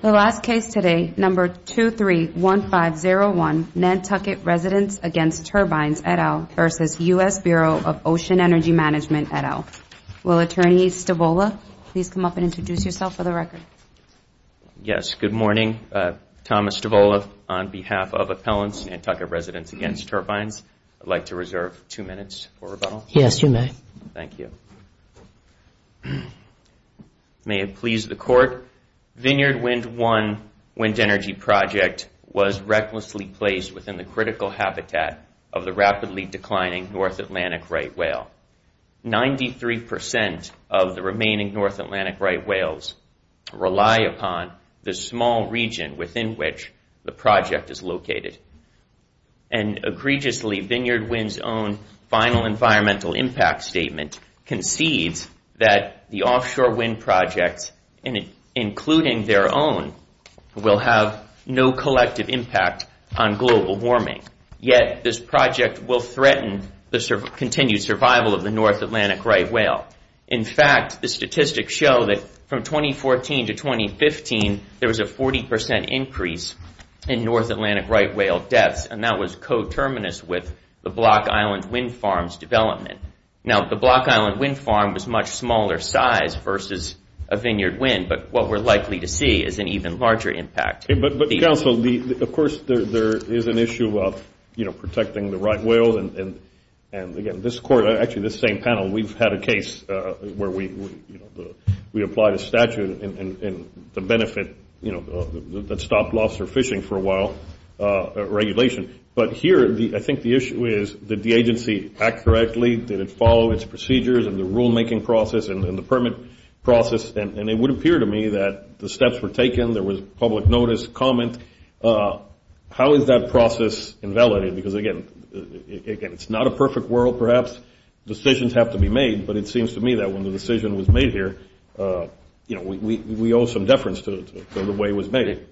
The last case today, No. 231501, Nantucket Residents Against Turbines et al. v. U.S. Bureau of Ocean Energy Management et al. Will Attorney Stavola please come up and introduce yourself for the record? Yes, good morning. Thomas Stavola on behalf of Appellants Nantucket Residents Against Turbines. I'd like to reserve two minutes for rebuttal. Yes, you may. Thank you. May it please the Court, Vineyard Wind One wind energy project was recklessly placed within the critical habitat of the rapidly declining North Atlantic right whale. Ninety-three percent of the remaining North Atlantic right whales rely upon the small region within which the project is located. And egregiously, Vineyard Wind's own final environmental impact statement concedes that the offshore wind projects, including their own, will have no collective impact on global warming. Yet, this project will threaten the continued survival of the North Atlantic right whale. In fact, the statistics show that from 2014 to 2015, there was a 40 percent increase in North Atlantic right whale deaths, and that was coterminous with the Block Island Wind Farm's development. Now, the Block Island Wind Farm was a much smaller size versus a Vineyard Wind, but what we're likely to see is an even larger impact. But counsel, of course, there is an issue of protecting the right whales. And again, this Court, actually this same panel, we've had a case where we applied a statute and the benefit that stopped lobster fishing for a while regulation. But here, I think the issue is, did the agency act correctly? Did it follow its procedures and the rulemaking process and the permit process? And it would appear to me that the steps were taken, there was public notice, comment. How is that process invalidated? Because again, it's not a perfect world, perhaps. Decisions have to be made, but it seems to me that when the decision was made here, you know, we owe some deference to the way it was made.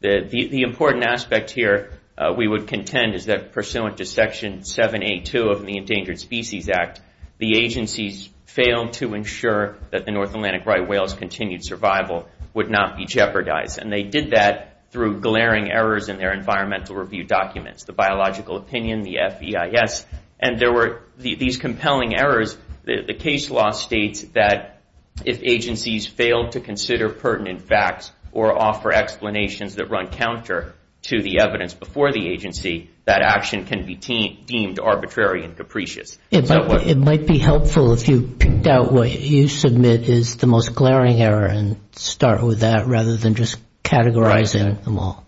The important aspect here we would contend is that pursuant to Section 782 of the Endangered Species Act, the agencies failed to ensure that the North Atlantic right whale's continued survival would not be jeopardized. And they did that through glaring errors in their environmental review documents, the biological opinion, the FEIS, and there were these compelling errors. The case law states that if agencies failed to consider pertinent facts or offer explanations that run counter to the evidence before the agency, that action can be deemed arbitrary and capricious. It might be helpful if you picked out what you submit is the most glaring error and start with that rather than just categorizing them all.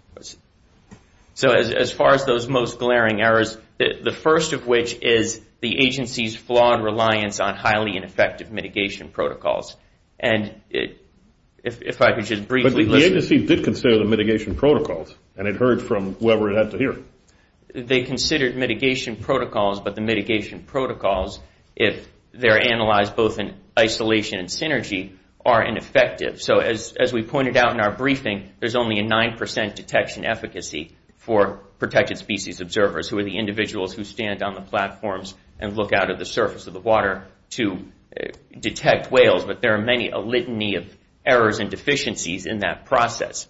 So as far as those most glaring errors, the first of which is the agency's flawed reliance on highly ineffective mitigation protocols. And if I could just briefly... But the agency did consider the mitigation protocols, and it heard from whoever it had to hear. They considered mitigation protocols, but the mitigation protocols, if they're analyzed both in isolation and synergy, are ineffective. So as we pointed out in our briefing, there's only a 9% detection efficacy for protected species observers, who are the individuals who stand on the platforms and look out at the surface of the water to detect whales. But there are many a litany of errors and deficiencies in that process.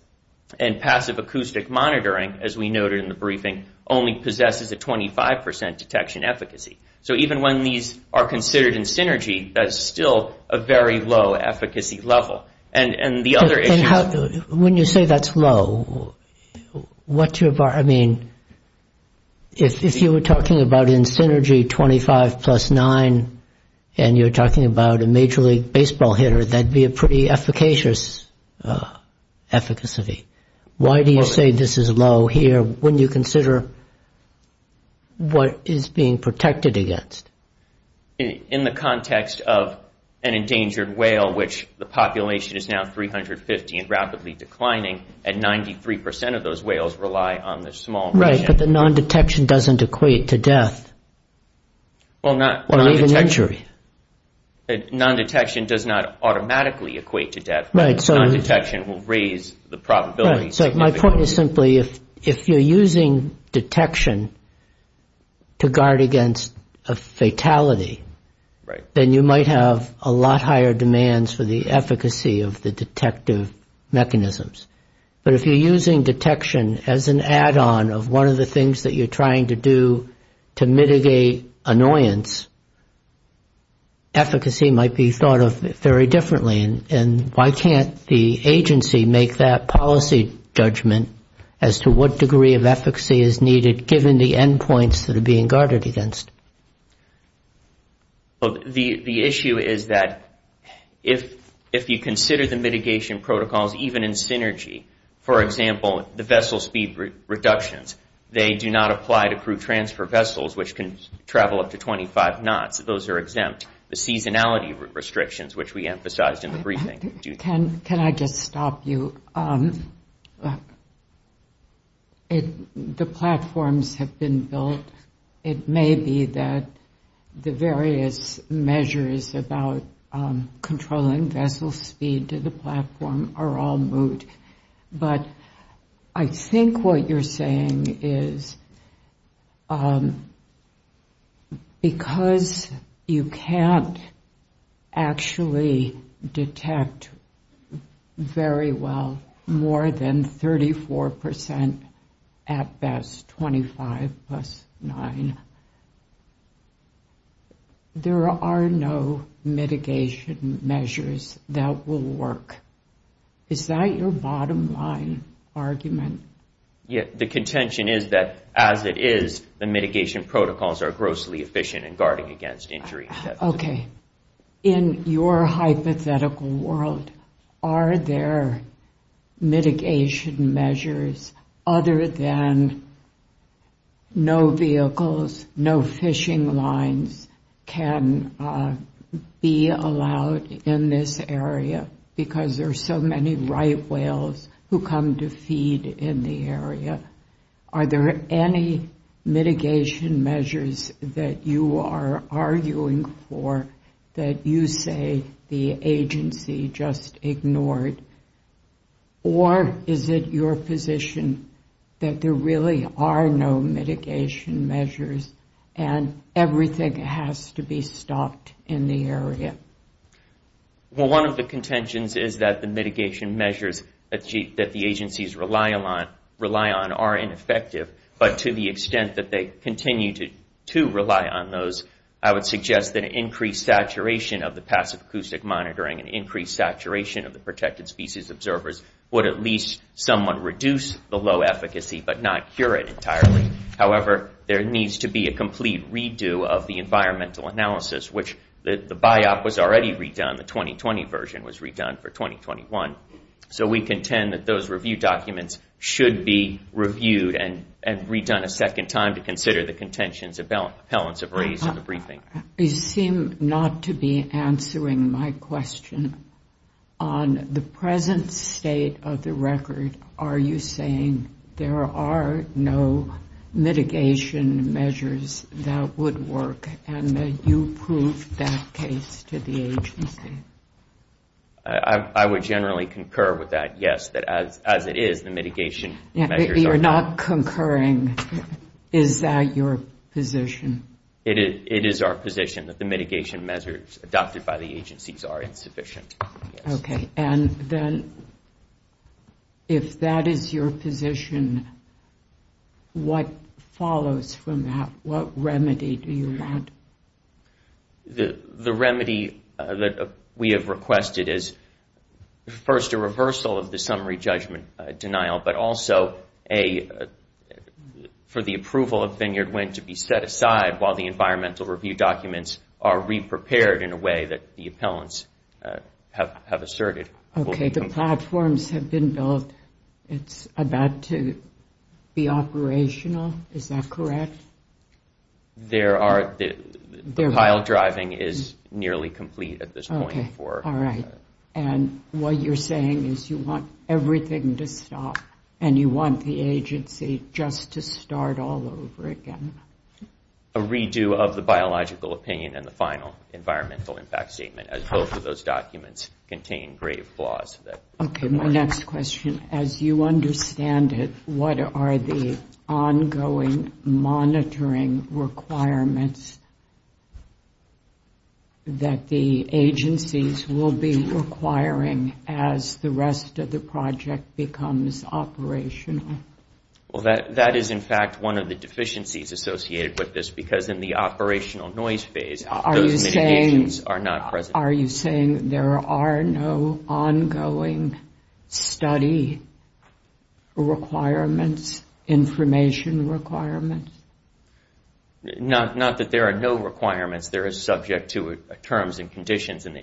And passive acoustic monitoring, as we noted in the briefing, only possesses a 25% detection efficacy. So even when these are considered in synergy, that's still a very low efficacy level. And the other issue... When you say that's low, what's your... I mean, if you were talking about in synergy 25 plus 9, and you're talking about a major league baseball hitter, that'd be a pretty efficacious efficacy. Why do you say this is low here when you consider what is being protected against? In the context of an endangered whale, which the population is now 350 and rapidly declining, at 93% of those whales rely on the small... Right, but the non-detection doesn't equate to death. Well, non-detection... Or even injury. Non-detection does not automatically equate to death. Right, so... Non-detection will raise the probability significantly. The point is simply, if you're using detection to guard against a fatality, then you might have a lot higher demands for the efficacy of the detective mechanisms. But if you're using detection as an add-on of one of the things that you're trying to do to mitigate annoyance, efficacy might be thought of very differently. And why can't the agency make that policy judgment as to what degree of efficacy is needed given the endpoints that are being guarded against? Well, the issue is that if you consider the mitigation protocols even in synergy, for example, the vessel speed reductions, they do not apply to crew transfer vessels, which can travel up to 25 knots. Those are exempt. The seasonality restrictions, which we emphasized in the briefing... Can I just stop you? The platforms have been built. It may be that the various measures about controlling vessel speed to the platform are all moot. But I think what you're saying is because you can't actually detect very well more than 34% at best, 25 plus 9, there are no mitigation measures that will work. Is that your bottom line argument? The contention is that as it is, the mitigation protocols are grossly efficient in guarding against injury. OK. In your hypothetical world, are there mitigation measures other than no vehicles, no fishing lines can be allowed in this area because there are so many right whales who come to feed in the area? Are there any mitigation measures that you are arguing for that you say the agency just ignored? Or is it your position that there really are no mitigation measures and everything has to be stopped in the area? One of the contentions is that the mitigation measures that the agencies rely on are ineffective. But to the extent that they continue to rely on those, I would suggest that increased saturation of the passive acoustic monitoring and increased saturation of the protected species observers would at least somewhat reduce the low efficacy but not cure it entirely. However, there needs to be a complete redo of the environmental analysis, which the BIOP was already redone, the 2020 version was redone for 2021. So we contend that those review documents should be reviewed and redone a second time to consider the contentions of appellants have raised in the briefing. You seem not to be answering my question. On the present state of the record, are you would work and that you prove that case to the agency? I would generally concur with that, yes, that as it is, the mitigation measures are not concurring. Is that your position? It is our position that the mitigation measures adopted by the agencies are insufficient. And then if that is your position, what follows from that? What remedy do you want? The remedy that we have requested is first a reversal of the summary judgment denial, but also for the approval of vineyard wind to be set aside while the environmental review documents are reprepared in a way that the appellants have asserted. Okay, the platforms have been built. It's about to be operational. Is that correct? The pile driving is nearly complete at this point. All right. And what you're saying is you want everything to stop and you want the agency just to start all over again? A redo of the biological opinion and the final environmental impact statement as both of those documents contain grave flaws. Okay, my next question, as you understand it, what are the ongoing monitoring requirements that the agencies will be requiring as the rest of the project becomes operational? Well, that is in fact one of the deficiencies associated with this because in the operational noise phase, those mitigations are not present. Are you saying there are no ongoing study requirements, information requirements? Not that there are no requirements. There is subject to terms and conditions in the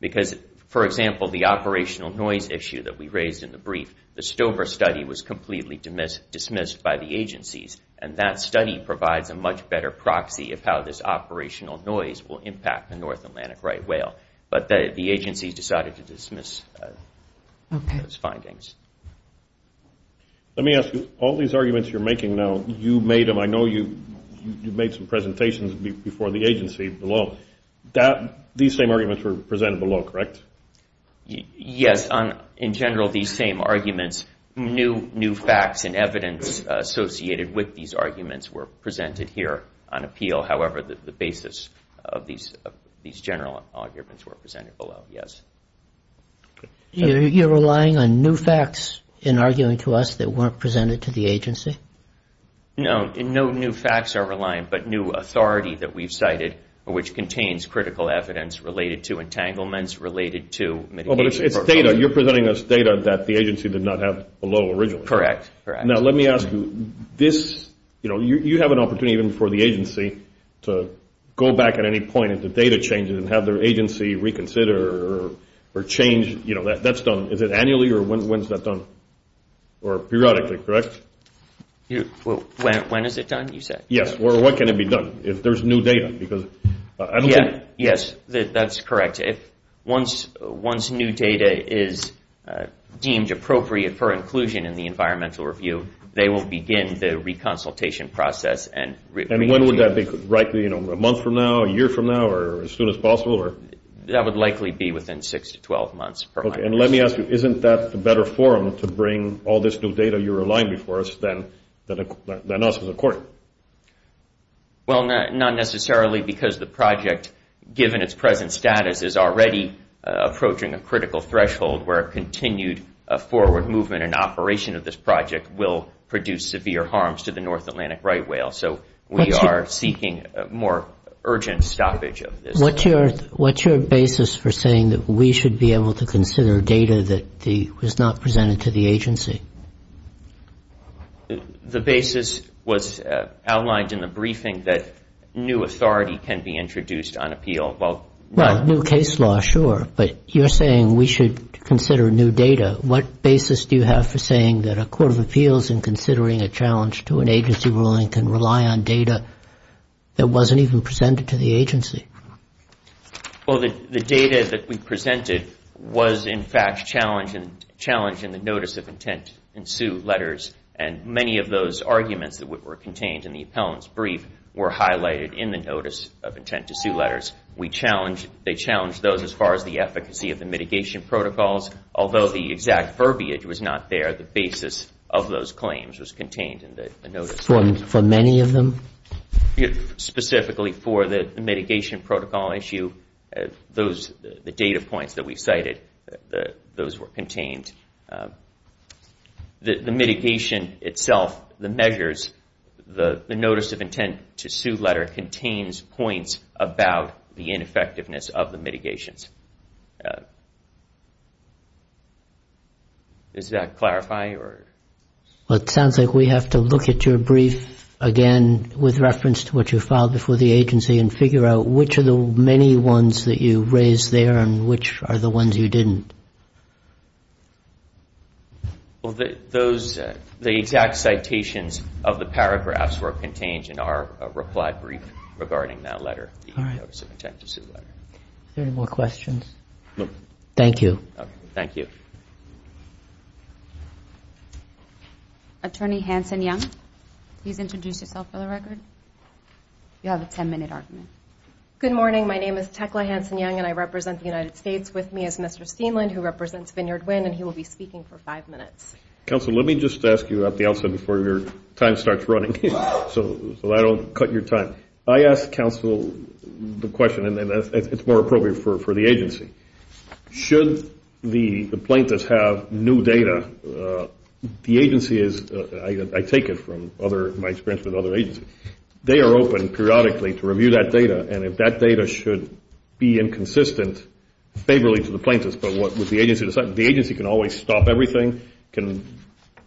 Because, for example, the operational noise issue that we raised in the brief, the Stover study was completely dismissed by the agencies. And that study provides a much better proxy of how this operational noise will impact the North Atlantic right whale. But the agencies decided to dismiss those findings. Let me ask you, all these arguments you're making now, you made them. I know you made some presentations before the agency below. These same arguments were presented below, correct? Yes, in general these same arguments, new facts and evidence associated with these arguments were presented here on appeal. However, the basis of these general arguments were presented below, yes. You're relying on new facts in arguing to us that weren't presented to the agency? No, no new facts are reliant, but new authority that we've cited, which contains critical evidence related to entanglements, related to mitigations. You're presenting us data that the agency did not have below originally. Correct. Now let me ask you, you have an opportunity even for the agency to go back at any point if the data changes and have their agency reconsider or change, that's done, is it annually or when is that done? Or periodically, correct? When is it done, you said? Yes, or what can it be done if there's new data? Yes, that's correct. Once new data is deemed appropriate for inclusion in the environmental review, they will begin the reconsultation process. And when would that be? A month from now, a year from now, or as soon as possible? That would likely be within six to 12 months. Okay, and let me ask you, isn't that the better forum to bring all this new data you're relying before us than us as a court? Well, not necessarily because the project, given its present status, is already approaching a critical threshold where a continued forward movement and operation of this project will produce severe harms to the North Atlantic right whale. So we are seeking more urgent stoppage of this. What's your basis for saying that we should be able to consider data that was not presented to the agency? The basis was outlined in the briefing that new authority can be introduced on appeal. Well, new case law, sure, but you're saying we should consider new data. What basis do you have for saying that a court of appeals in considering a challenge to an agency ruling can rely on data that wasn't even presented to the agency? Well, the data that we presented was, in fact, challenged in the notice of intent to sue letters, and many of those arguments that were contained in the appellant's brief were highlighted in the notice of intent to sue letters. They challenged those as far as the efficacy of the mitigation protocols. Although the exact verbiage was not there, the basis of those claims was contained in the notice. For many of them? Specifically for the mitigation protocol issue, the data points that we cited, those were contained. The mitigation itself, the measures, the notice of intent to sue letter contains points about the ineffectiveness of the mitigations. Does that clarify? Well, it sounds like we have to look at your brief again with reference to what you filed before the agency and figure out which of the many ones that you raised there and which are the ones you didn't. Well, the exact citations of the paragraphs were contained in our reply brief regarding that letter, the notice of intent to sue letter. All right. Are there any more questions? No. Thank you. Attorney Hanson-Young, please introduce yourself for the record. You have a ten-minute argument. Good morning. My name is Tekla Hanson-Young, and I represent the United States. With me is Mr. Steenland, who represents Vineyard Wind, and he will be speaking for five minutes. Counsel, let me just ask you at the outset before your time starts running so I don't cut your time. I asked counsel the question, and it's more appropriate for the agency. Should the plaintiffs have new data, the agency is, I take it from my experience with other agencies, they are open periodically to review that data, and if that data should be inconsistent favorably to the plaintiffs, but what would the agency decide? The agency can always stop everything, can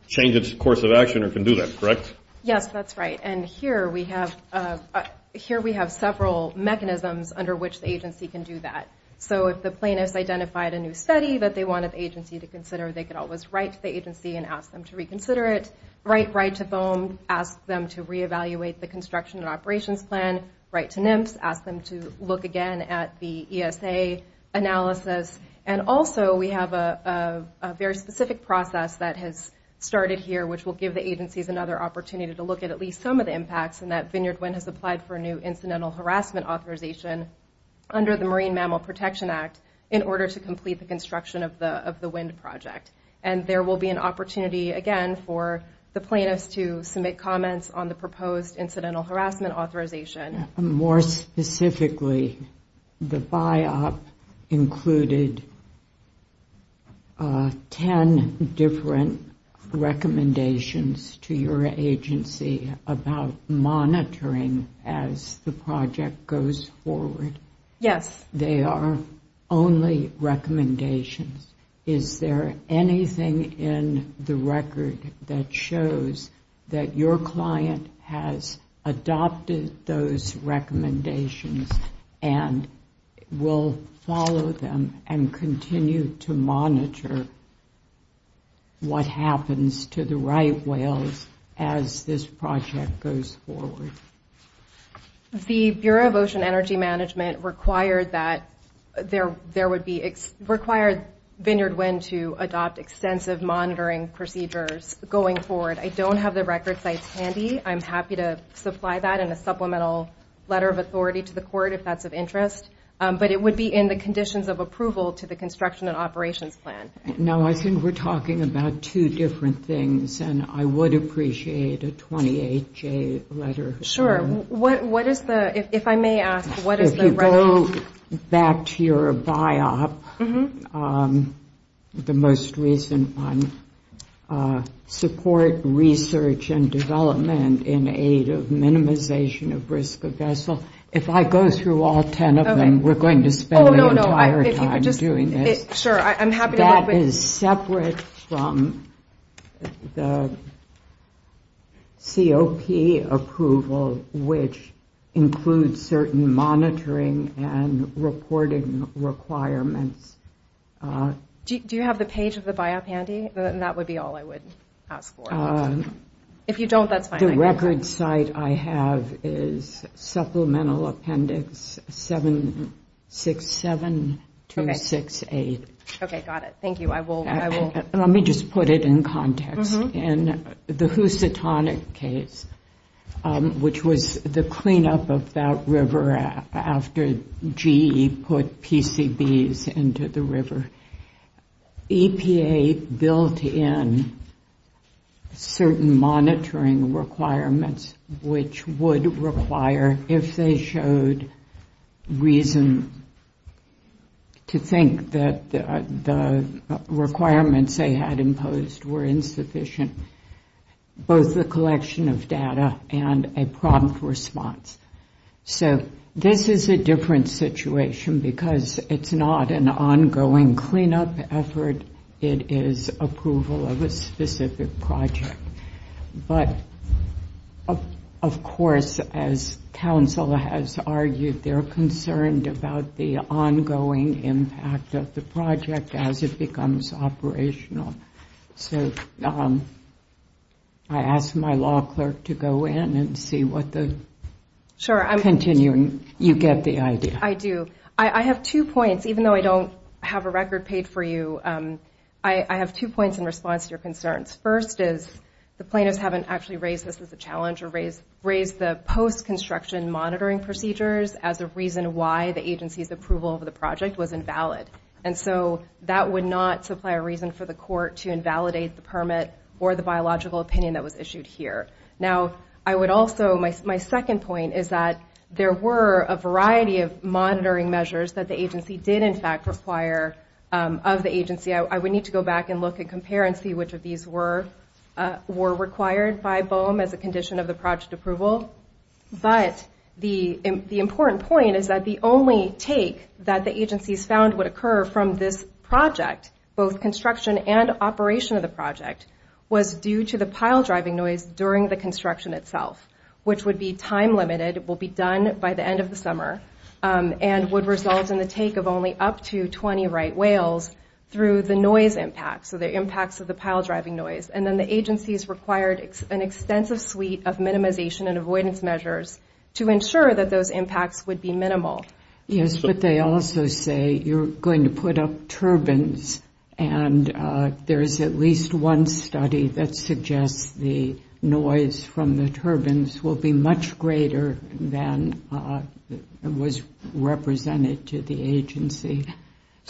change its course of action, or can do that, correct? Yes, that's right. And here we have several mechanisms under which the agency can do that. So if the plaintiffs identified a new study that they wanted the agency to consider, they could always write to the agency and ask them to reconsider it, write right to BOEM, ask them to reevaluate the construction and operations plan, write to NIMPS, ask them to look again at the ESA analysis, and also we have a very specific process that has started here, which will give the agencies another opportunity to look at at least some of the impacts, and that Vineyard Wind has applied for a new incidental harassment authorization under the Marine Mammal Protection Act in order to complete the construction of the wind project, and there will be an opportunity again for the plaintiffs to submit comments on the proposed incidental harassment authorization. More specifically, the buy-up included 10 different recommendations to your agency about monitoring as the project goes forward. Yes. They are only recommendations. Is there anything in the record that shows that your client has adopted those recommendations and will follow them and continue to monitor what happens to the right whales as this project goes forward? The Bureau of Ocean Energy Management required Vineyard Wind to adopt extensive monitoring procedures going forward. I don't have the record sites handy. I'm happy to supply that in a supplemental letter of authority to the court if that's of interest, but it would be in the conditions of approval to the construction and operations plan. No, I think we're talking about two different things, and I would appreciate a 28-J letter. Sure. What is the, if I may ask, what is the recommendation? If you go back to your buy-up, the most recent one, support research and development in aid of minimization of risk of vessel. If I go through all 10 of them, we're going to spend the entire time doing this. Sure, I'm happy to look. That is separate from the COP approval, which includes certain monitoring and reporting requirements. Do you have the page of the buy-up handy? That would be all I would ask for. If you don't, that's fine. The record site I have is supplemental appendix 767268. Okay, got it. Thank you. Let me just put it in context. In the Housatonic case, which was the cleanup of that river after GE put PCBs into the river, EPA built in certain monitoring requirements, which would require, if they showed reason to think that the requirements they had imposed were insufficient, both the collection of data and a prompt response. This is a different situation because it's not an ongoing cleanup effort. It is approval of a specific project. But, of course, as counsel has argued, they're concerned about the ongoing impact of the project as it becomes operational. So I ask my law clerk to go in and see what the continuing, you get the idea. I do. I have two points, even though I don't have a record paid for you. I have two points in response to your concerns. First is the plaintiffs haven't actually raised this as a challenge or raised the post-construction monitoring procedures as a reason why the agency's approval of the project was invalid. And so that would not supply a reason for the court to invalidate the permit or the biological opinion that was issued here. Now, I would also, my second point is that there were a variety of monitoring measures that the agency did, in fact, require of the agency. I would need to go back and look and compare and see which of these were required by BOEM as a condition of the project approval. But the important point is that the only take that the agencies found would occur from this project, both construction and operation of the project, was due to the pile-driving noise during the construction itself, which would be time-limited, will be done by the end of the summer, and would result in the take of only up to 20 right whales through the noise impact, so the impacts of the pile-driving noise. And then the agencies required an extensive suite of minimization and avoidance measures to ensure that those impacts would be minimal. Yes, but they also say you're going to put up turbines, and there's at least one study that suggests the noise from the turbines will be much greater than was represented to the agency.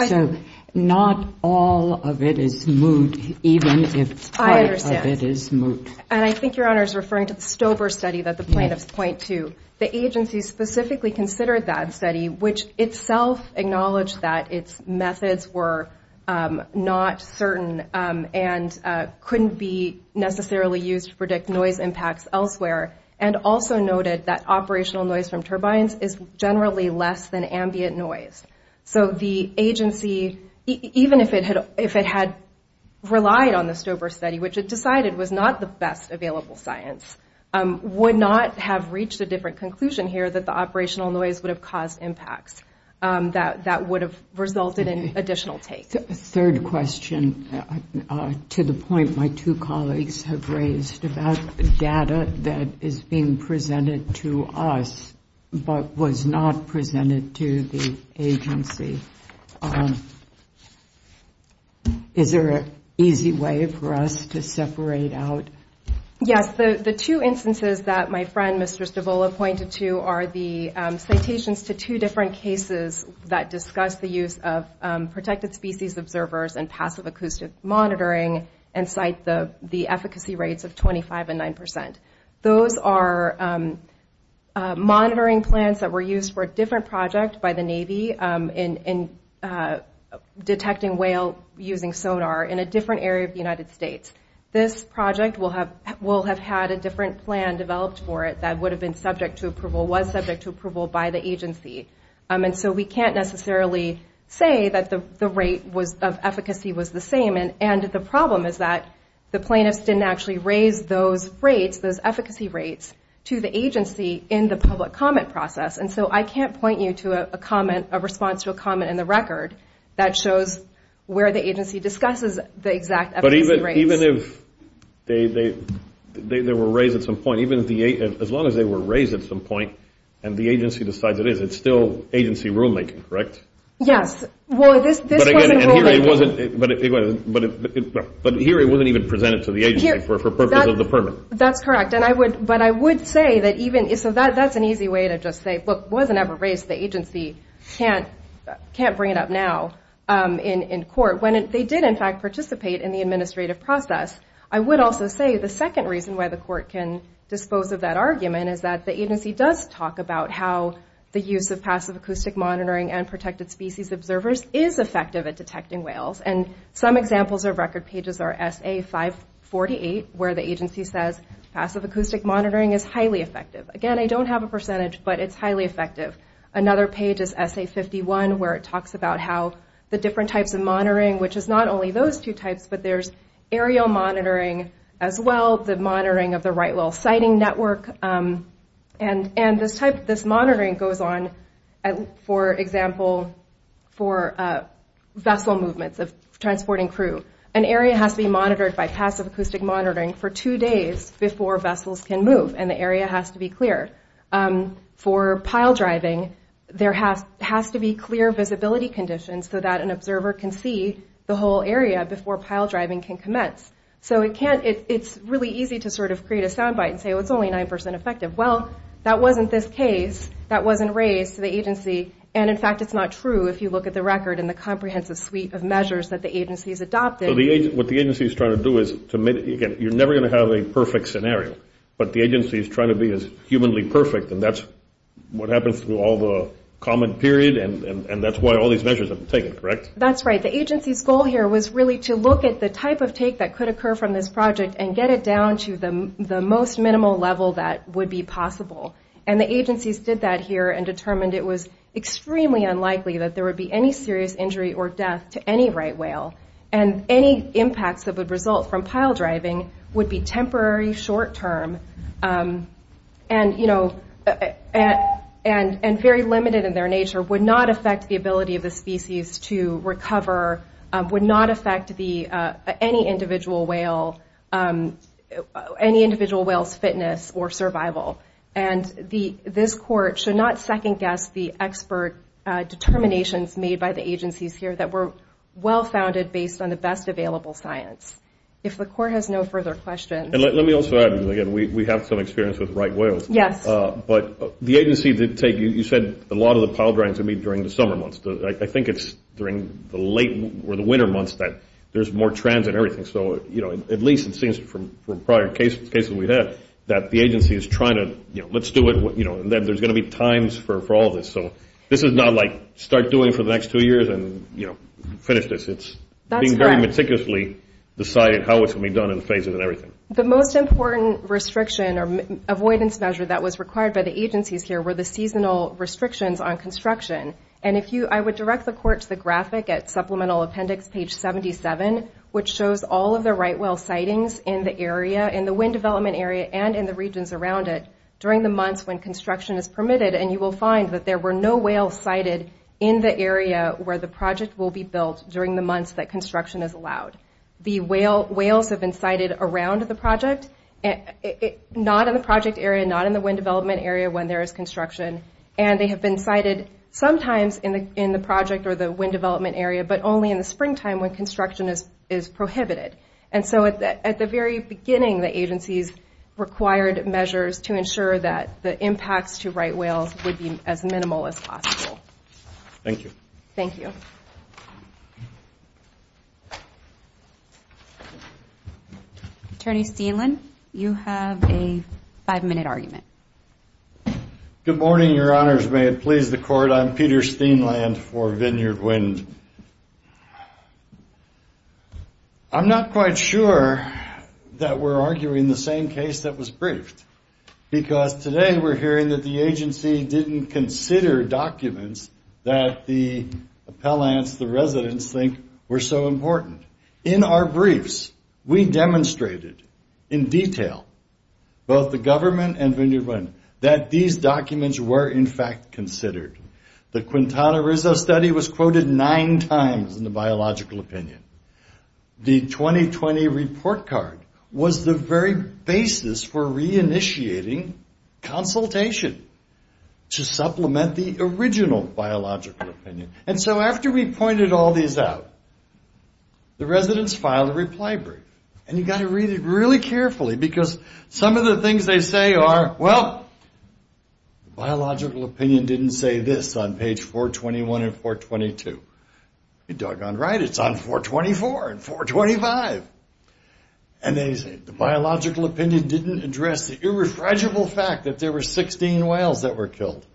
So not all of it is moot, even if part of it is moot. I understand. And I think Your Honor is referring to the Stover study that the plaintiffs point to. The agency specifically considered that study, which itself acknowledged that its methods were not certain and couldn't be necessarily used to predict noise impacts elsewhere, and also noted that operational noise from turbines is generally less than ambient noise. So the agency, even if it had relied on the Stover study, which it decided was not the best available science, would not have reached a different conclusion here that the operational noise would have caused impacts that would have resulted in additional take. A third question, to the point my two colleagues have raised, about the data that is being presented to us but was not presented to the agency. Is there an easy way for us to separate out? Yes. The two instances that my friend, Mr. Stavula, pointed to are the citations to two different cases that discuss the use of protected species observers and passive acoustic monitoring and cite the efficacy rates of 25 and 9 percent. Those are monitoring plans that were used for a different project by the Navy in detecting whale using sonar in a different area of the United States. This project will have had a different plan developed for it that would have been subject to approval, was subject to approval by the agency. And so we can't necessarily say that the rate of efficacy was the same. And the problem is that the plaintiffs didn't actually raise those rates, those efficacy rates, to the agency in the public comment process. And so I can't point you to a response to a comment in the record that shows where the agency discusses the exact efficacy rates. But even if they were raised at some point, as long as they were raised at some point and the agency decides it is, it's still agency rulemaking, correct? Yes. Well, this wasn't rulemaking. But here it wasn't even presented to the agency for purpose of the permit. That's correct. But I would say that even, so that's an easy way to just say, look, it wasn't ever raised, the agency can't bring it up now in court. When they did, in fact, participate in the administrative process. I would also say the second reason why the court can dispose of that argument is that the agency does talk about how the use of passive acoustic monitoring and protected species observers is effective at detecting whales. And some examples of record pages are SA-548, where the agency says passive acoustic monitoring is highly effective. Again, I don't have a percentage, but it's highly effective. Another page is SA-51, where it talks about how the different types of monitoring, which is not only those two types, but there's aerial monitoring as well, the monitoring of the right whale sighting network. And this monitoring goes on, for example, for vessel movements of transporting crew. An area has to be monitored by passive acoustic monitoring for two days before vessels can move, and the area has to be clear. For pile driving, there has to be clear visibility conditions so that an observer can see the whole area before pile driving can commence. So it's really easy to sort of create a soundbite and say, oh, it's only 9% effective. Well, that wasn't this case. That wasn't raised to the agency. And, in fact, it's not true if you look at the record and the comprehensive suite of measures that the agency has adopted. So what the agency is trying to do is to make it, again, you're never going to have a perfect scenario, but the agency is trying to be as humanly perfect, and that's what happens through all the comment period, and that's why all these measures have been taken, correct? That's right. But the agency's goal here was really to look at the type of take that could occur from this project and get it down to the most minimal level that would be possible. And the agencies did that here and determined it was extremely unlikely that there would be any serious injury or death to any right whale, and any impacts that would result from pile driving would be temporary, short-term, and very limited in their nature, would not affect the ability of the species to recover, would not affect any individual whale's fitness or survival. And this court should not second-guess the expert determinations made by the agencies here that were well-founded based on the best available science. If the court has no further questions. And let me also add, again, we have some experience with right whales. Yes. But the agency did take, you said a lot of the pile driving is going to be during the summer months. I think it's during the late winter months that there's more transit and everything. So at least it seems from prior cases we've had that the agency is trying to, you know, let's do it, and there's going to be times for all this. So this is not like start doing it for the next two years and finish this. It's being very meticulously decided how it's going to be done and the phases and everything. The most important restriction or avoidance measure that was required by the agencies here were the seasonal restrictions on construction. And I would direct the court to the graphic at supplemental appendix page 77, which shows all of the right whale sightings in the area, in the wind development area, and in the regions around it during the months when construction is permitted. And you will find that there were no whales sighted in the area where the project will be built during the months that construction is allowed. The whales have been sighted around the project, not in the project area, not in the wind development area, when there is construction. And they have been sighted sometimes in the project or the wind development area, but only in the springtime when construction is prohibited. And so at the very beginning, the agencies required measures to ensure that the impacts to right whales would be as minimal as possible. Thank you. Thank you. Attorney Steenland, you have a five-minute argument. Good morning, Your Honors. May it please the court. I'm Peter Steenland for Vineyard Wind. I'm not quite sure that we're arguing the same case that was briefed because today we're hearing that the agency didn't consider documents that the appellants, the residents, think were so important. In our briefs, we demonstrated in detail, both the government and Vineyard Wind, that these documents were in fact considered. The Quintana Roo study was quoted nine times in the biological opinion. The 2020 report card was the very basis for re-initiating consultation to supplement the original biological opinion. And so after we pointed all these out, the residents filed a reply brief. And you've got to read it really carefully because some of the things they say are, well, the biological opinion didn't say this on page 421 and 422. You're doggone right. It's on 424 and 425. And they say the biological opinion didn't address the irrefragible fact that there were 16 whales that were killed.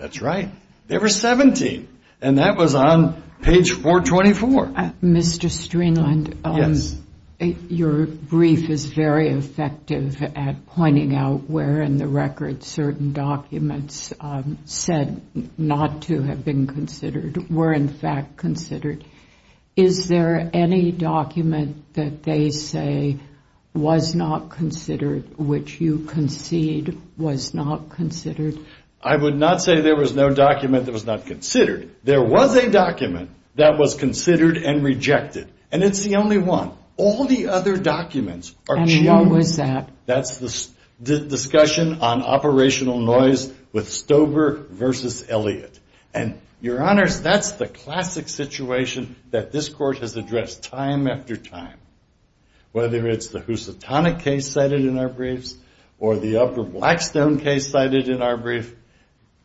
That's right. There were 17. And that was on page 424. Mr. Streenland, your brief is very effective at pointing out where in the record certain documents said not to have been considered were in fact considered. Is there any document that they say was not considered, which you concede was not considered? I would not say there was no document that was not considered. There was a document that was considered and rejected, and it's the only one. All the other documents are changed. And what was that? That's the discussion on operational noise with Stober versus Elliott. And, Your Honors, that's the classic situation that this Court has addressed time after time, whether it's the Housatonic case cited in our briefs or the Upper Blackstone case cited in our brief,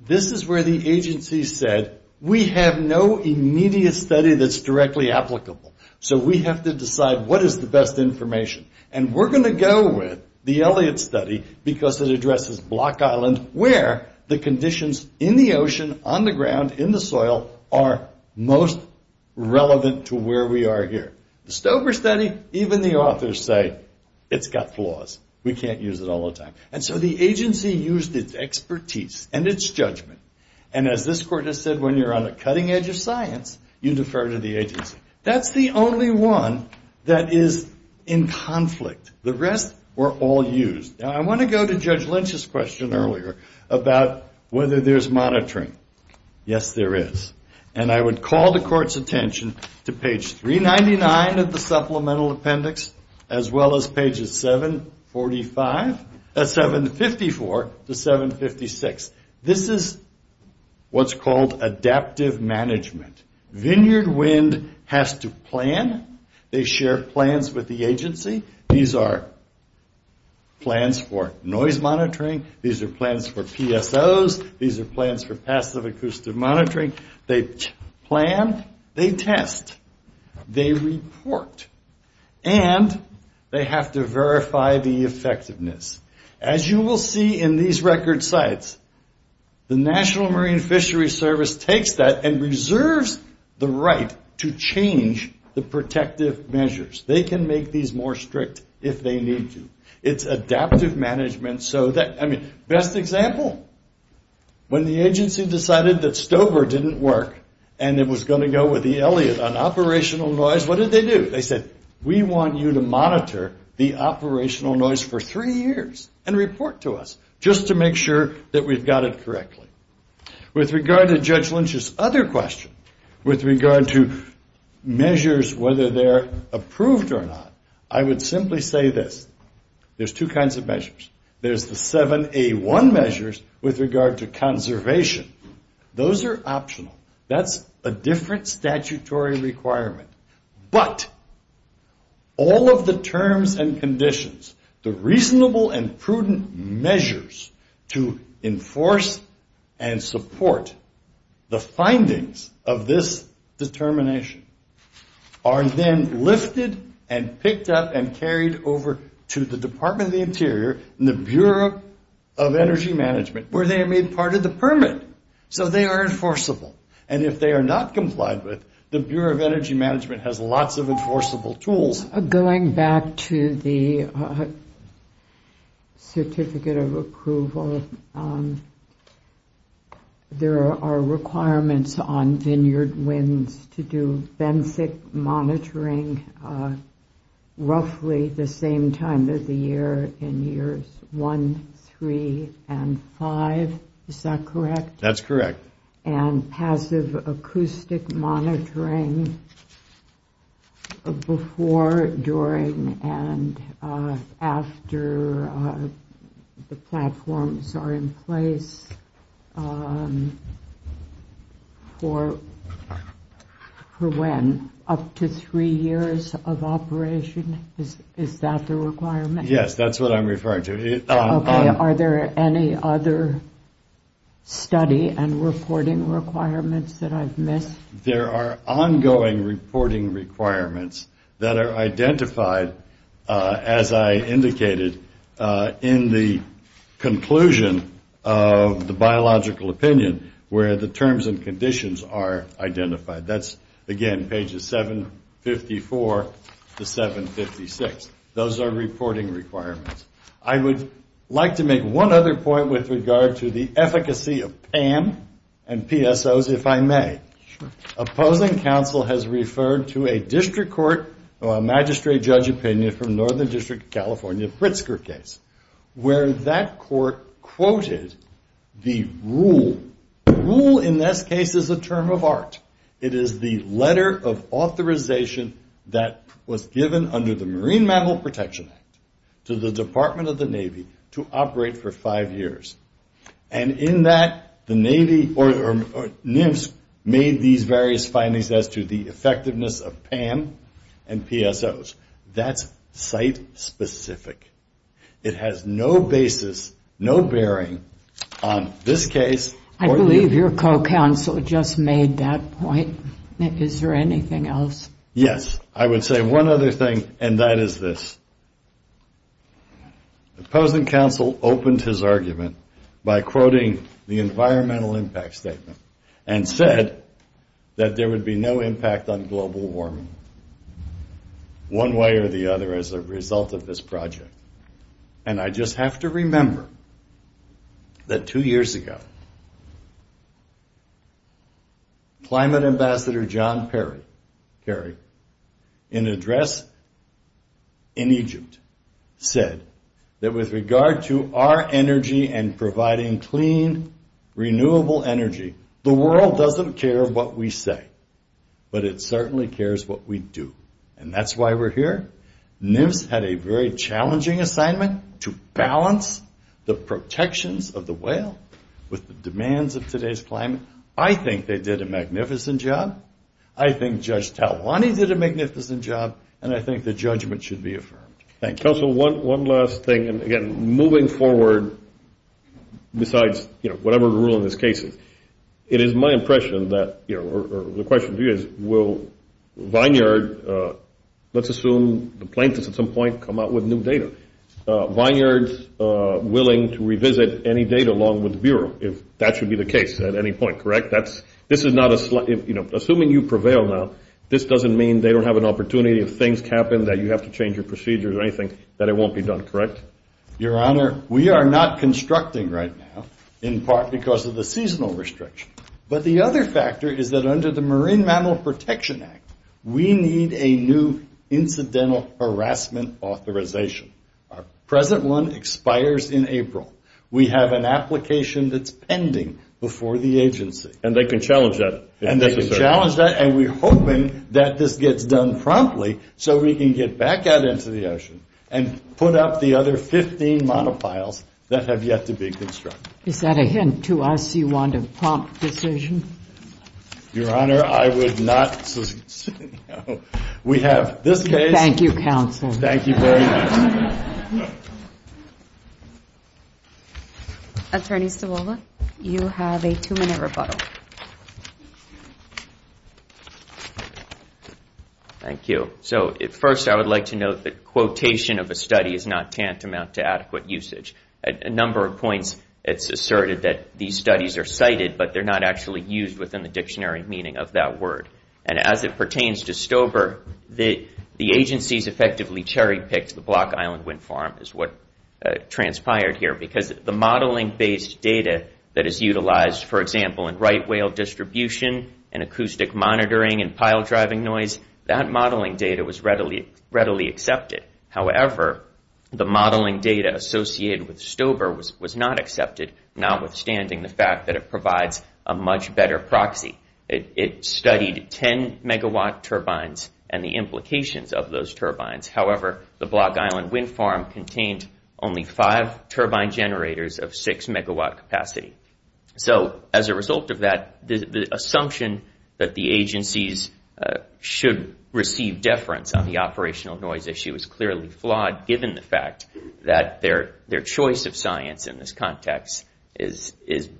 this is where the agency said, we have no immediate study that's directly applicable. So we have to decide what is the best information. And we're going to go with the Elliott study because it addresses Block Island, where the conditions in the ocean, on the ground, in the soil, are most relevant to where we are here. The Stober study, even the authors say, it's got flaws. We can't use it all the time. And so the agency used its expertise and its judgment. And as this Court has said, when you're on the cutting edge of science, you defer to the agency. That's the only one that is in conflict. The rest were all used. Now, I want to go to Judge Lynch's question earlier about whether there's monitoring. Yes, there is. And I would call the Court's attention to page 399 of the supplemental appendix, as well as pages 754 to 756. This is what's called adaptive management. Vineyard Wind has to plan. They share plans with the agency. These are plans for noise monitoring. These are plans for PSOs. These are plans for passive acoustic monitoring. They plan. They test. They report. And they have to verify the effectiveness. As you will see in these record sites, the National Marine Fisheries Service takes that and reserves the right to change the protective measures. They can make these more strict if they need to. It's adaptive management so that, I mean, best example, when the agency decided that Stover didn't work and it was going to go with the Elliott on operational noise, what did they do? They said, we want you to monitor the operational noise for three years and report to us, just to make sure that we've got it correctly. With regard to Judge Lynch's other question, with regard to measures, whether they're approved or not, I would simply say this. There's two kinds of measures. There's the 7A1 measures with regard to conservation. Those are optional. That's a different statutory requirement. But all of the terms and conditions, the reasonable and prudent measures to enforce and support the findings of this determination, are then lifted and picked up and carried over to the Department of the Interior and the Bureau of Energy Management, where they are made part of the permit. So they are enforceable. And if they are not complied with, the Bureau of Energy Management has lots of enforceable tools. Going back to the certificate of approval, there are requirements on Vineyard Winds to do BENCIC monitoring roughly the same time of the year in years one, three, and five. Is that correct? That's correct. And passive acoustic monitoring before, during, and after the platforms are in place for when? Up to three years of operation? Is that the requirement? Yes, that's what I'm referring to. Are there any other study and reporting requirements that I've missed? There are ongoing reporting requirements that are identified, as I indicated, in the conclusion of the biological opinion where the terms and conditions are identified. Again, pages 754 to 756. Those are reporting requirements. I would like to make one other point with regard to the efficacy of PAM and PSOs, if I may. Sure. Opposing counsel has referred to a district court magistrate judge opinion from Northern District of California Pritzker case, where that court quoted the rule. The rule in this case is a term of art. It is the letter of authorization that was given under the Marine Mammal Protection Act to the Department of the Navy to operate for five years. And in that, the Navy or NIMS made these various findings as to the effectiveness of PAM and PSOs. That's site-specific. It has no basis, no bearing on this case. I believe your co-counsel just made that point. Is there anything else? Yes. I would say one other thing, and that is this. Opposing counsel opened his argument by quoting the environmental impact statement and said that there would be no impact on global warming, one way or the other, as a result of this project. And I just have to remember that two years ago, Climate Ambassador John Kerry, in an address in Egypt, said that with regard to our energy and providing clean, renewable energy, the world doesn't care what we say, but it certainly cares what we do. And that's why we're here. NIMS had a very challenging assignment to balance the protections of the whale with the demands of today's climate. I think they did a magnificent job. I think Judge Talwani did a magnificent job. And I think the judgment should be affirmed. Thank you. Counsel, one last thing. And, again, moving forward, besides, you know, whatever the rule in this case is, it is my impression that, you know, or the question to you is, will Vineyard, let's assume the plaintiffs at some point come out with new data, Vineyard's willing to revisit any data along with the Bureau if that should be the case at any point, correct? This is not a slight, you know, assuming you prevail now, this doesn't mean they don't have an opportunity if things happen that you have to change your procedures or anything that it won't be done, correct? Your Honor, we are not constructing right now in part because of the seasonal restriction. But the other factor is that under the Marine Mammal Protection Act, we need a new incidental harassment authorization. Our present one expires in April. We have an application that's pending before the agency. And they can challenge that if necessary. And they can challenge that, and we're hoping that this gets done promptly so we can get back out into the ocean and put up the other 15 monopiles that have yet to be constructed. Is that a hint to us you want a prompt decision? Your Honor, I would not. We have this case. Thank you, counsel. Thank you very much. Attorney Stavola, you have a two-minute rebuttal. Thank you. So first, I would like to note that quotation of a study is not tantamount to adequate usage. At a number of points, it's asserted that these studies are cited, but they're not actually used within the dictionary meaning of that word. And as it pertains to STOBR, the agencies effectively cherry-picked the Block Island Wind Farm, is what transpired here, because the modeling-based data that is utilized, for example, in right whale distribution and acoustic monitoring and pile driving noise, that modeling data was readily accepted. However, the modeling data associated with STOBR was not accepted, notwithstanding the fact that it provides a much better proxy. It studied 10-megawatt turbines and the implications of those turbines. However, the Block Island Wind Farm contained only five turbine generators of six-megawatt capacity. So as a result of that, the assumption that the agencies should receive deference on the operational noise issue is clearly flawed, given the fact that their choice of science in this context is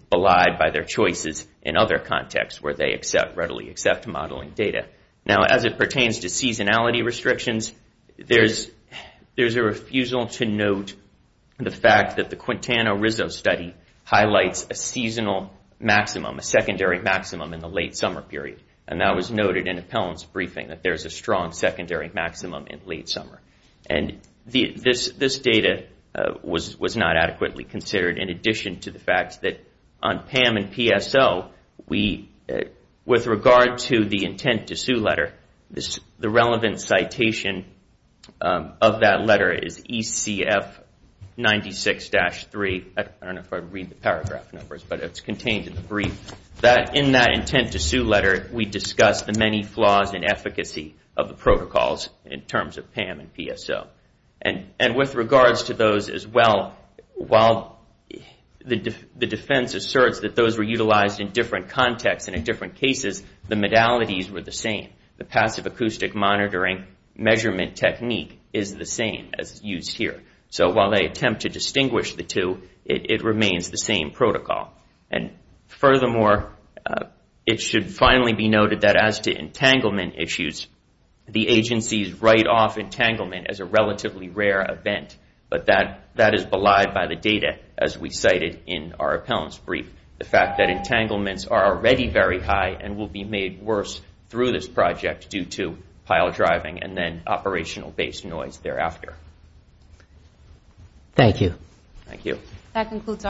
belied by their choices in other contexts where they readily accept modeling data. Now, as it pertains to seasonality restrictions, there's a refusal to note the fact that the Quintana Roo study highlights a seasonal maximum, a secondary maximum in the late summer period. And that was noted in Appellant's briefing, that there's a strong secondary maximum in late summer. And this data was not adequately considered, in addition to the fact that on PAM and PSO, with regard to the intent-to-sue letter, the relevant citation of that letter is ECF 96-3. I don't know if I read the paragraph numbers, but it's contained in the brief. In that intent-to-sue letter, we discuss the many flaws in efficacy of the protocols in terms of PAM and PSO. And with regards to those as well, while the defense asserts that those were utilized in different contexts and in different cases, the modalities were the same. The passive acoustic monitoring measurement technique is the same as used here. So while they attempt to distinguish the two, it remains the same protocol. And furthermore, it should finally be noted that as to entanglement issues, the agencies write off entanglement as a relatively rare event. But that is belied by the data, as we cited in our Appellant's brief. The fact that entanglements are already very high and will be made worse through this project due to pile driving and then operational-based noise thereafter. Thank you. Thank you. That concludes our hearing.